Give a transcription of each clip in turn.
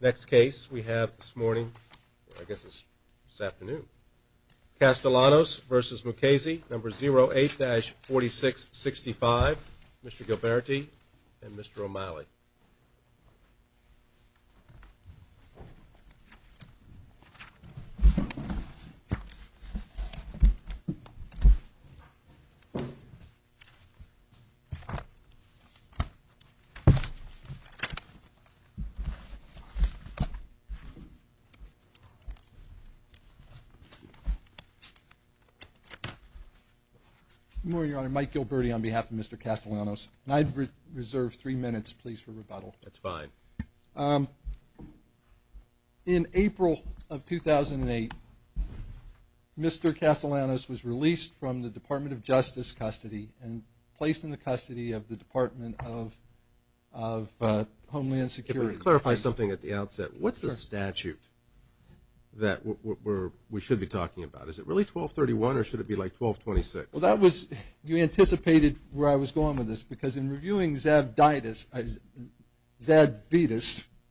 Next case we have this morning, I guess it's this afternoon. Castellanos v. Mukasey, number Good morning, Your Honor. Mike Gilberti on behalf of Mr. Castellanos. And I reserve three minutes, please, for rebuttal. That's fine. In April of 2008, Mr. Castellanos was released from the Department of Justice custody and placed in the custody of the Department of Homeland Security. Clarify something at the outset. What's the statute that we should be talking about? Is it really 1231 or should it be like 1226? Well, that was, you anticipated where I was going with this because in reviewing Zadvitas,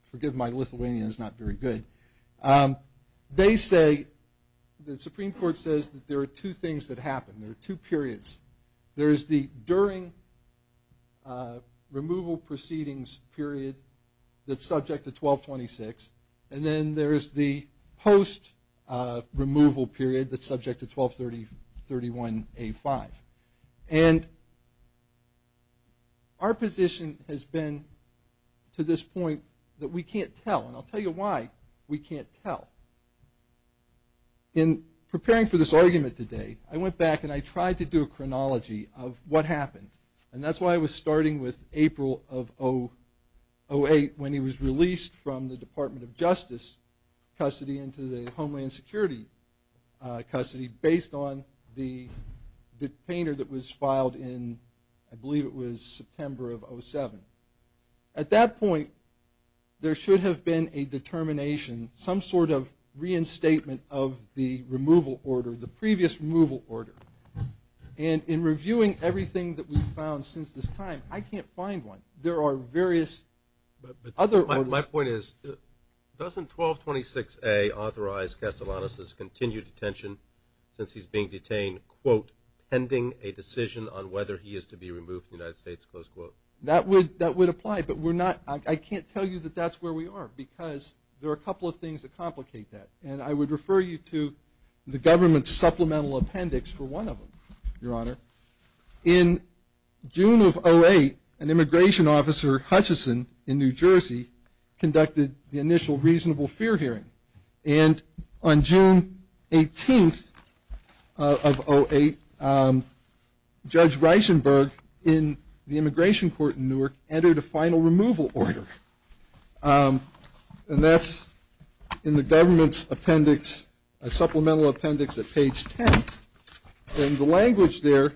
forgive my Lithuanian, it's not very good. They say, the Supreme Court says that there are two things that happen. There are two periods. There's the during removal proceedings period that's subject to 1226. And then there's the post removal period that's subject to 1231A5. And our position has been to this point that we can't tell. And I'll tell you why we can't tell. In preparing for this argument today, I went back and I tried to do a chronology of what happened. And that's why I was starting with April of 2008 when he was released from the Department of Justice custody into the Homeland Security custody based on the detainer that was filed in, I believe it was September of 2007. At that point, there should have been a determination, some sort of reinstatement of the removal order, the previous removal order. And in reviewing everything that we've found since this time, I can't find one. There are various other orders. But my point is, doesn't 1226A authorize Castellanos' continued detention since he's being detained, quote, pending a decision on whether he is to be removed from the United States, close quote? That would apply, but we're not, I can't tell you that that's where we are because there are a couple of things that complicate that. And I would refer you to the government's supplemental appendix for one of them, Your Honor. In June of 2008, an immigration officer, Hutchison, in New Jersey, conducted the initial reasonable fear hearing. And on June 18th of 2008, Judge Reichenberg in the immigration court in Newark entered a final removal order. And that's in the government's appendix, a supplemental appendix at page 10. And the language there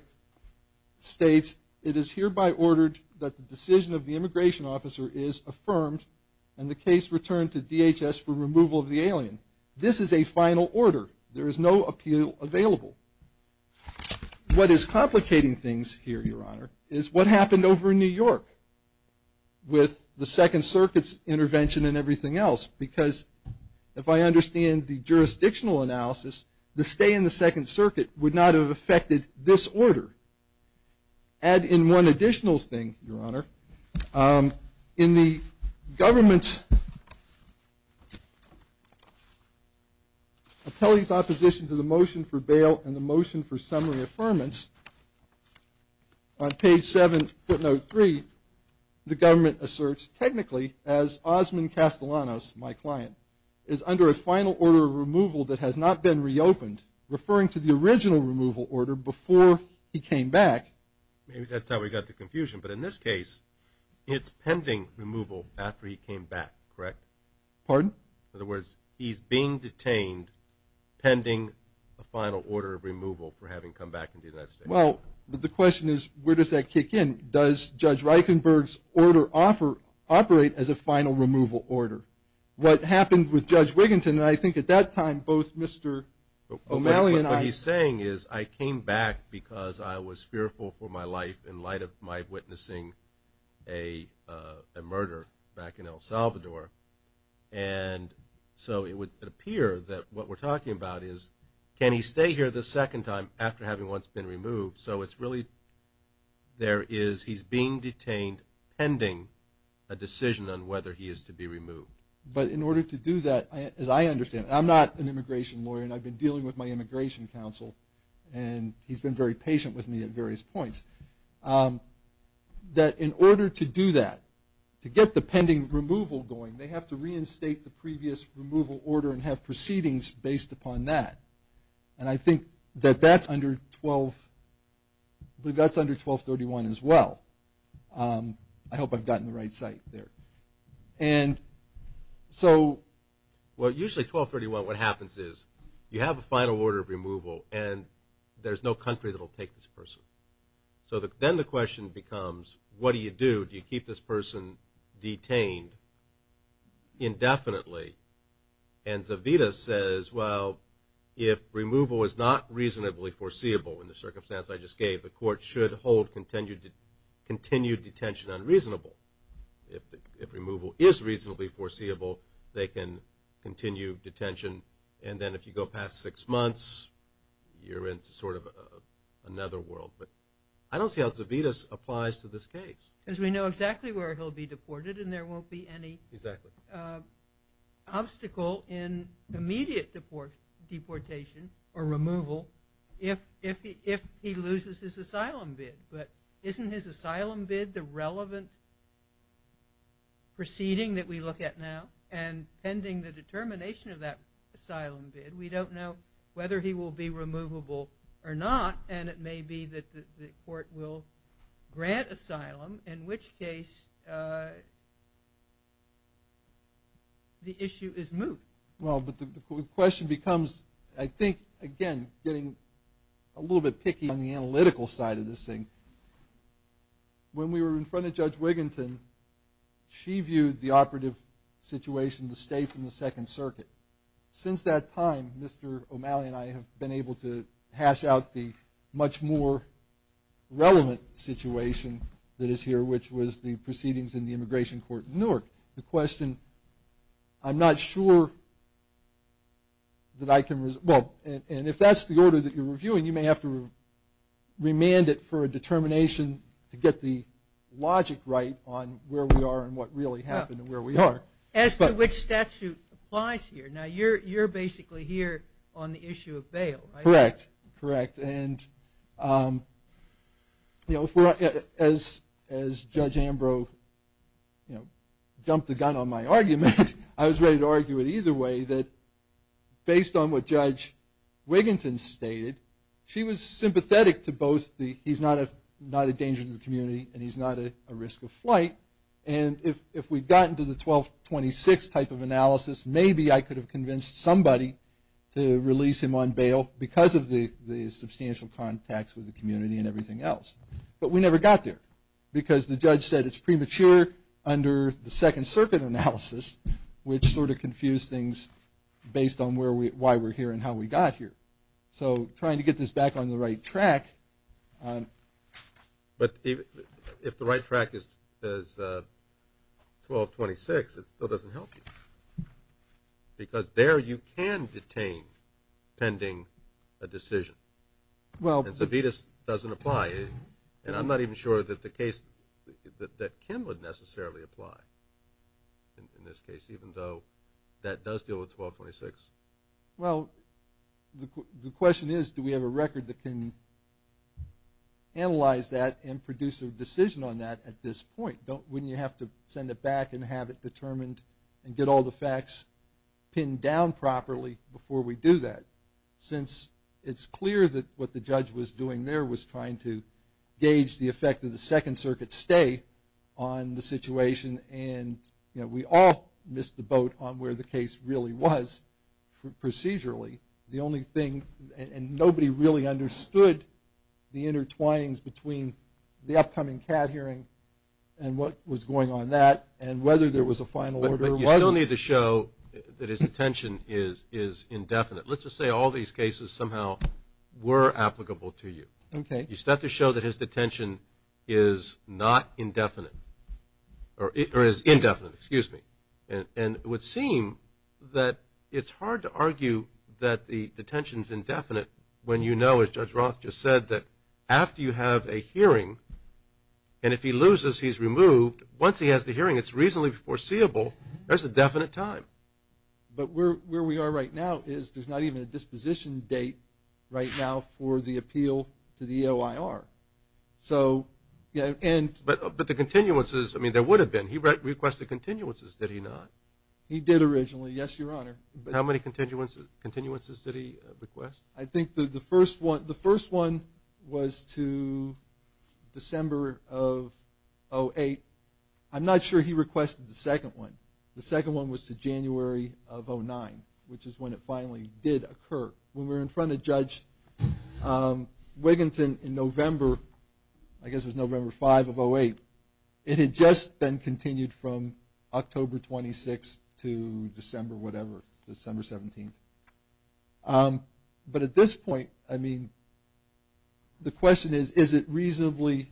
states, it is hereby ordered that the decision of the immigration officer is affirmed and the case returned to DHS for removal of the alien. This is a final order. There is no appeal available. What is complicating things here, Your Honor, is what happened over in New York with the Second Circuit's intervention and everything else. Because if I understand the jurisdictional analysis, the stay in the Second Circuit would not have affected this order. Add in one additional thing, Your Honor. In the government's appellee's opposition to the motion for bail and the motion for summary affirmance, on page 7, footnote 3, the government asserts, technically, as Osman Castellanos, my client, is under a final order of removal that has not been reopened, referring to the original removal order before he came back. Maybe that's how we got the confusion. But in this case, it's pending removal after he came back, correct? Pardon? In other words, he's being detained pending a final order of removal for having come back into the United States. Well, the question is, where does that kick in? Does Judge Reichenberg's order operate as a final removal order? What happened with Judge Wiginton, and I think at that time both Mr. O'Malley and I… I came back because I was fearful for my life in light of my witnessing a murder back in El Salvador. And so it would appear that what we're talking about is, can he stay here the second time after having once been removed? So it's really, there is, he's being detained pending a decision on whether he is to be removed. But in order to do that, as I understand, I'm not an immigration lawyer, and I've been dealing with my immigration counsel, and he's been very patient with me at various points. That in order to do that, to get the pending removal going, they have to reinstate the previous removal order and have proceedings based upon that. And I think that that's under 1231 as well. I hope I've gotten the right site there. And so… Well, usually 1231, what happens is you have a final order of removal, and there's no country that will take this person. So then the question becomes, what do you do? Do you keep this person detained indefinitely? And Zavita says, well, if removal is not reasonably foreseeable in the circumstance I just gave, the court should hold continued detention unreasonable. If removal is reasonably foreseeable, they can continue detention. And then if you go past six months, you're in sort of another world. But I don't see how Zavita applies to this case. Because we know exactly where he'll be deported and there won't be any obstacle in immediate deportation or removal if he loses his asylum bid. But isn't his asylum bid the relevant proceeding that we look at now? And pending the determination of that asylum bid, we don't know whether he will be removable or not. And it may be that the court will grant asylum, in which case the issue is moot. Well, but the question becomes, I think, again, getting a little bit picky on the analytical side of this thing. When we were in front of Judge Wigginton, she viewed the operative situation to stay from the Second Circuit. Since that time, Mr. O'Malley and I have been able to hash out the much more relevant situation that is here, which was the proceedings in the immigration court in Newark. But the question, I'm not sure that I can resolve. And if that's the order that you're reviewing, you may have to remand it for a determination to get the logic right on where we are and what really happened and where we are. As to which statute applies here. Now, you're basically here on the issue of bail, right? Correct, correct. And, you know, as Judge Ambrose, you know, jumped the gun on my argument, I was ready to argue it either way that based on what Judge Wigginton stated, she was sympathetic to both the he's not a danger to the community and he's not a risk of flight. And if we'd gotten to the 1226 type of analysis, maybe I could have convinced somebody to release him on bail because of the substantial contacts with the community and everything else. But we never got there because the judge said it's premature under the Second Circuit analysis, which sort of confused things based on why we're here and how we got here. So trying to get this back on the right track. But if the right track is 1226, it still doesn't help you. Because there you can detain pending a decision. And Savitas doesn't apply. And I'm not even sure that the case that Kim would necessarily apply in this case, even though that does deal with 1226. Well, the question is do we have a record that can analyze that and produce a decision on that at this point? Wouldn't you have to send it back and have it determined and get all the facts pinned down properly before we do that? Since it's clear that what the judge was doing there was trying to gauge the effect of the Second Circuit stay on the situation and we all missed the boat on where the case really was procedurally. And nobody really understood the intertwinings between the upcoming CAT hearing and what was going on that and whether there was a final order or wasn't. But you still need to show that his detention is indefinite. Let's just say all these cases somehow were applicable to you. You still have to show that his detention is not indefinite or is indefinite. And it would seem that it's hard to argue that the detention is indefinite when you know, as Judge Roth just said, that after you have a hearing and if he loses, he's removed. Once he has the hearing, it's reasonably foreseeable there's a definite time. But where we are right now is there's not even a disposition date right now for the appeal to the EOIR. But the continuances, I mean, there would have been. He requested continuances, did he not? He did originally, yes, Your Honor. How many continuances did he request? I think the first one was to December of 2008. I'm not sure he requested the second one. The second one was to January of 2009, which is when it finally did occur. When we were in front of Judge Wigginton in November, I guess it was November 5 of 2008, it had just been continued from October 26 to December whatever, December 17. But at this point, I mean, the question is, is it reasonably,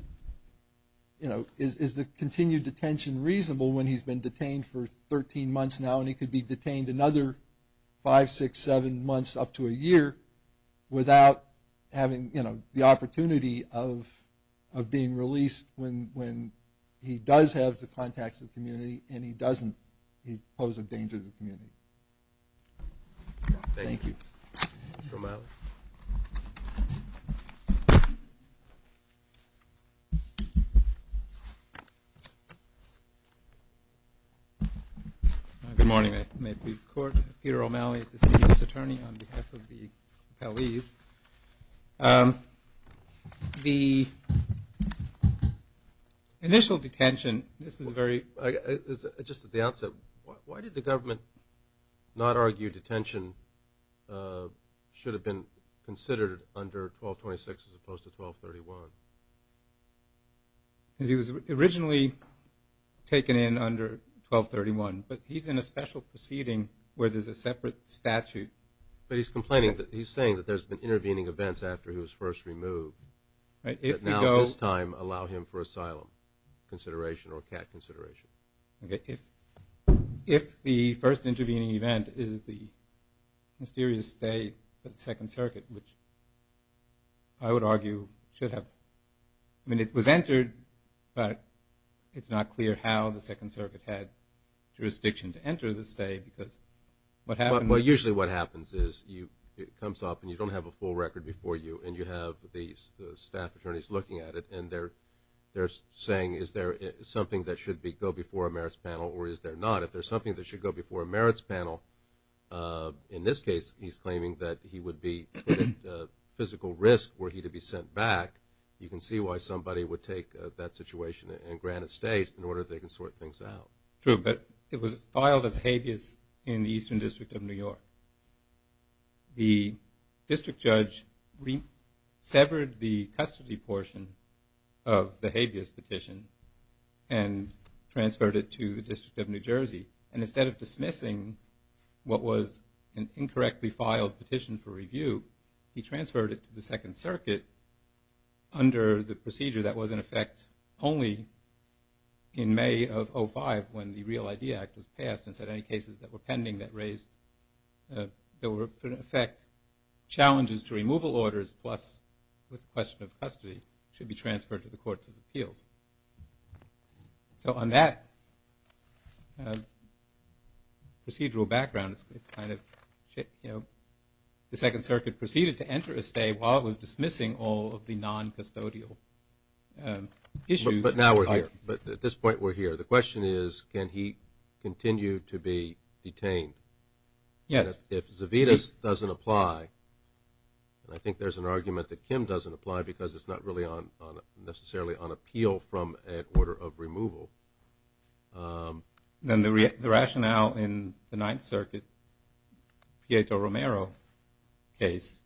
you know, is the continued detention reasonable when he's been detained for 13 months now and he could be detained another five, six, seven months up to a year without having, you know, the opportunity of being released when he does have the contacts of the community and he doesn't. He poses a danger to the community. Thank you. Thank you, Mr. O'Malley. Good morning. May it please the Court. I'm Peter O'Malley. This is the U.S. Attorney on behalf of the appellees. The initial detention, this is very. Just at the outset, why did the government not argue detention should have been considered under 1226 as opposed to 1231? Because he was originally taken in under 1231, but he's in a special proceeding where there's a separate statute. But he's complaining. He's saying that there's been intervening events after he was first removed. Right. If he goes. But now at this time, allow him for asylum consideration or cat consideration. Okay. If the first intervening event is the mysterious stay at the Second Circuit, which I would argue should have. I mean, it was entered, but it's not clear how the Second Circuit had jurisdiction to enter the stay because what happened. Well, usually what happens is it comes up and you don't have a full record before you and you have the staff attorneys looking at it and they're saying is there something that should go before a merits panel or is there not? If there's something that should go before a merits panel, in this case he's claiming that he would be at physical risk were he to be sent back. You can see why somebody would take that situation and grant a stay in order they can sort things out. True, but it was filed as habeas in the Eastern District of New York. The district judge severed the custody portion of the habeas petition and transferred it to the District of New Jersey. And instead of dismissing what was an incorrectly filed petition for review, he transferred it to the Second Circuit under the procedure that was in effect only in May of 05 when the Real Idea Act was passed and said any cases that were pending that raised, that were in effect challenges to removal orders plus with question of custody should be transferred to the Courts of Appeals. So on that procedural background, it's kind of, you know, the Second Circuit proceeded to enter a stay while it was dismissing all of the non-custodial issues. But now we're here. But at this point we're here. The question is can he continue to be detained? Yes. If Zavitas doesn't apply, and I think there's an argument that Kim doesn't apply because it's not really necessarily on appeal from an order of removal. Then the rationale in the Ninth Circuit, Pietro Romero's case,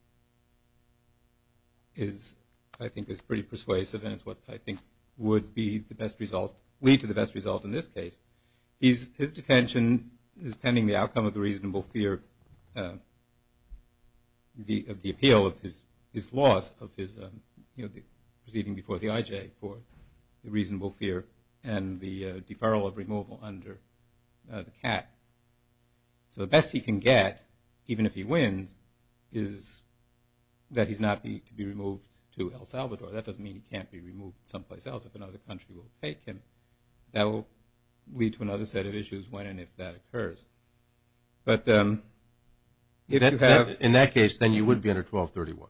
I think is pretty persuasive and is what I think would be the best result, lead to the best result in this case. His detention is pending the outcome of the reasonable fear of the appeal, his loss of his receiving before the IJ for the reasonable fear and the deferral of removal under the cap. So the best he can get, even if he wins, is that he's not to be removed to El Salvador. That doesn't mean he can't be removed someplace else if another country will take him. That will lead to another set of issues when and if that occurs. But if you have… In that case, then you would be under 1231.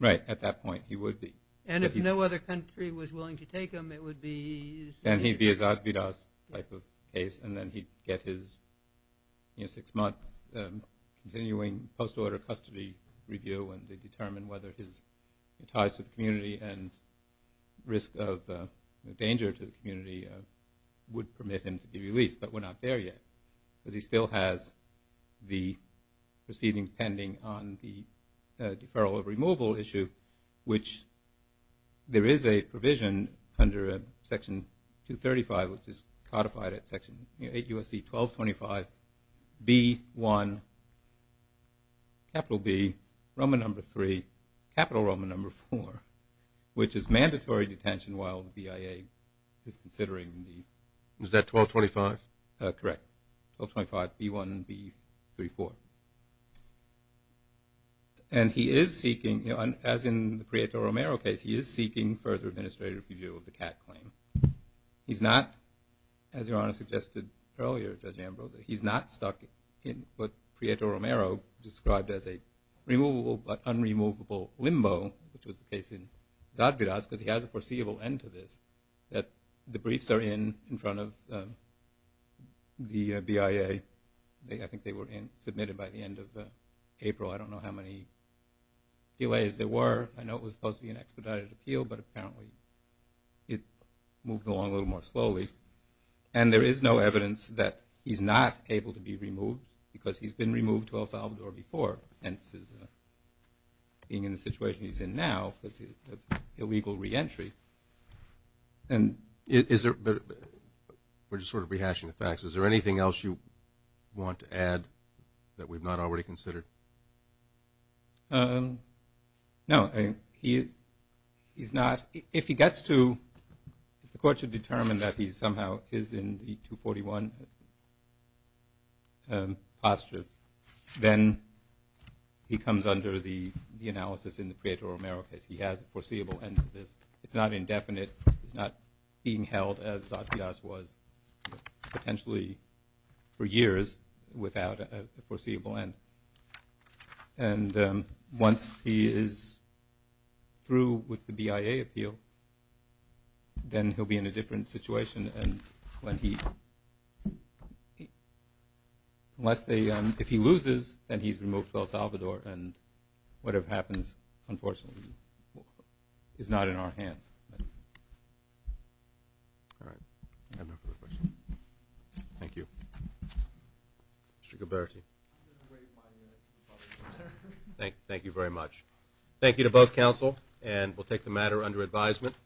Right. At that point he would be. And if no other country was willing to take him it would be… Then he'd be a Zavitas type of case and then he'd get his six-month continuing post-order custody review when they determine whether his ties to the community and risk of danger to the community would permit him to be released. But we're not there yet because he still has the proceeding pending on the deferral of removal issue, which there is a provision under Section 235, which is codified at Section 8 U.S.C. 1225, B1, capital B, Roman number 3, capital Roman number 4, which is mandatory detention while the BIA is considering the… Is that 1225? Correct. 1225, B1, B34. And he is seeking, as in the Prieto-Romero case, he is seeking further administrative review of the Catt claim. He's not, as Your Honor suggested earlier, Judge Ambrose, he's not stuck in what Prieto-Romero described as a removable but unremovable limbo, which was the case in Zavitas because he has a foreseeable end to this, that the briefs are in front of the BIA. I think they were submitted by the end of April. I don't know how many delays there were. I know it was supposed to be an expedited appeal, but apparently it moved along a little more slowly. And there is no evidence that he's not able to be removed because he's been removed to El Salvador before, being in the situation he's in now of his illegal reentry. We're just sort of rehashing the facts. Is there anything else you want to add that we've not already considered? No, he's not. If he gets to, if the court should determine that he somehow is in the 241 posture, then he comes under the analysis in the Prieto-Romero case. He has a foreseeable end to this. It's not indefinite. It's not being held as Zavitas was potentially for years without a foreseeable end. And once he is through with the BIA appeal, then he'll be in a different situation. And when he, unless they, if he loses, then he's removed to El Salvador. And whatever happens, unfortunately, is not in our hands. All right. I have no further questions. Thank you. Mr. Gaberty. Thank you very much. Thank you to both counsel. And we'll take the matter under advisement.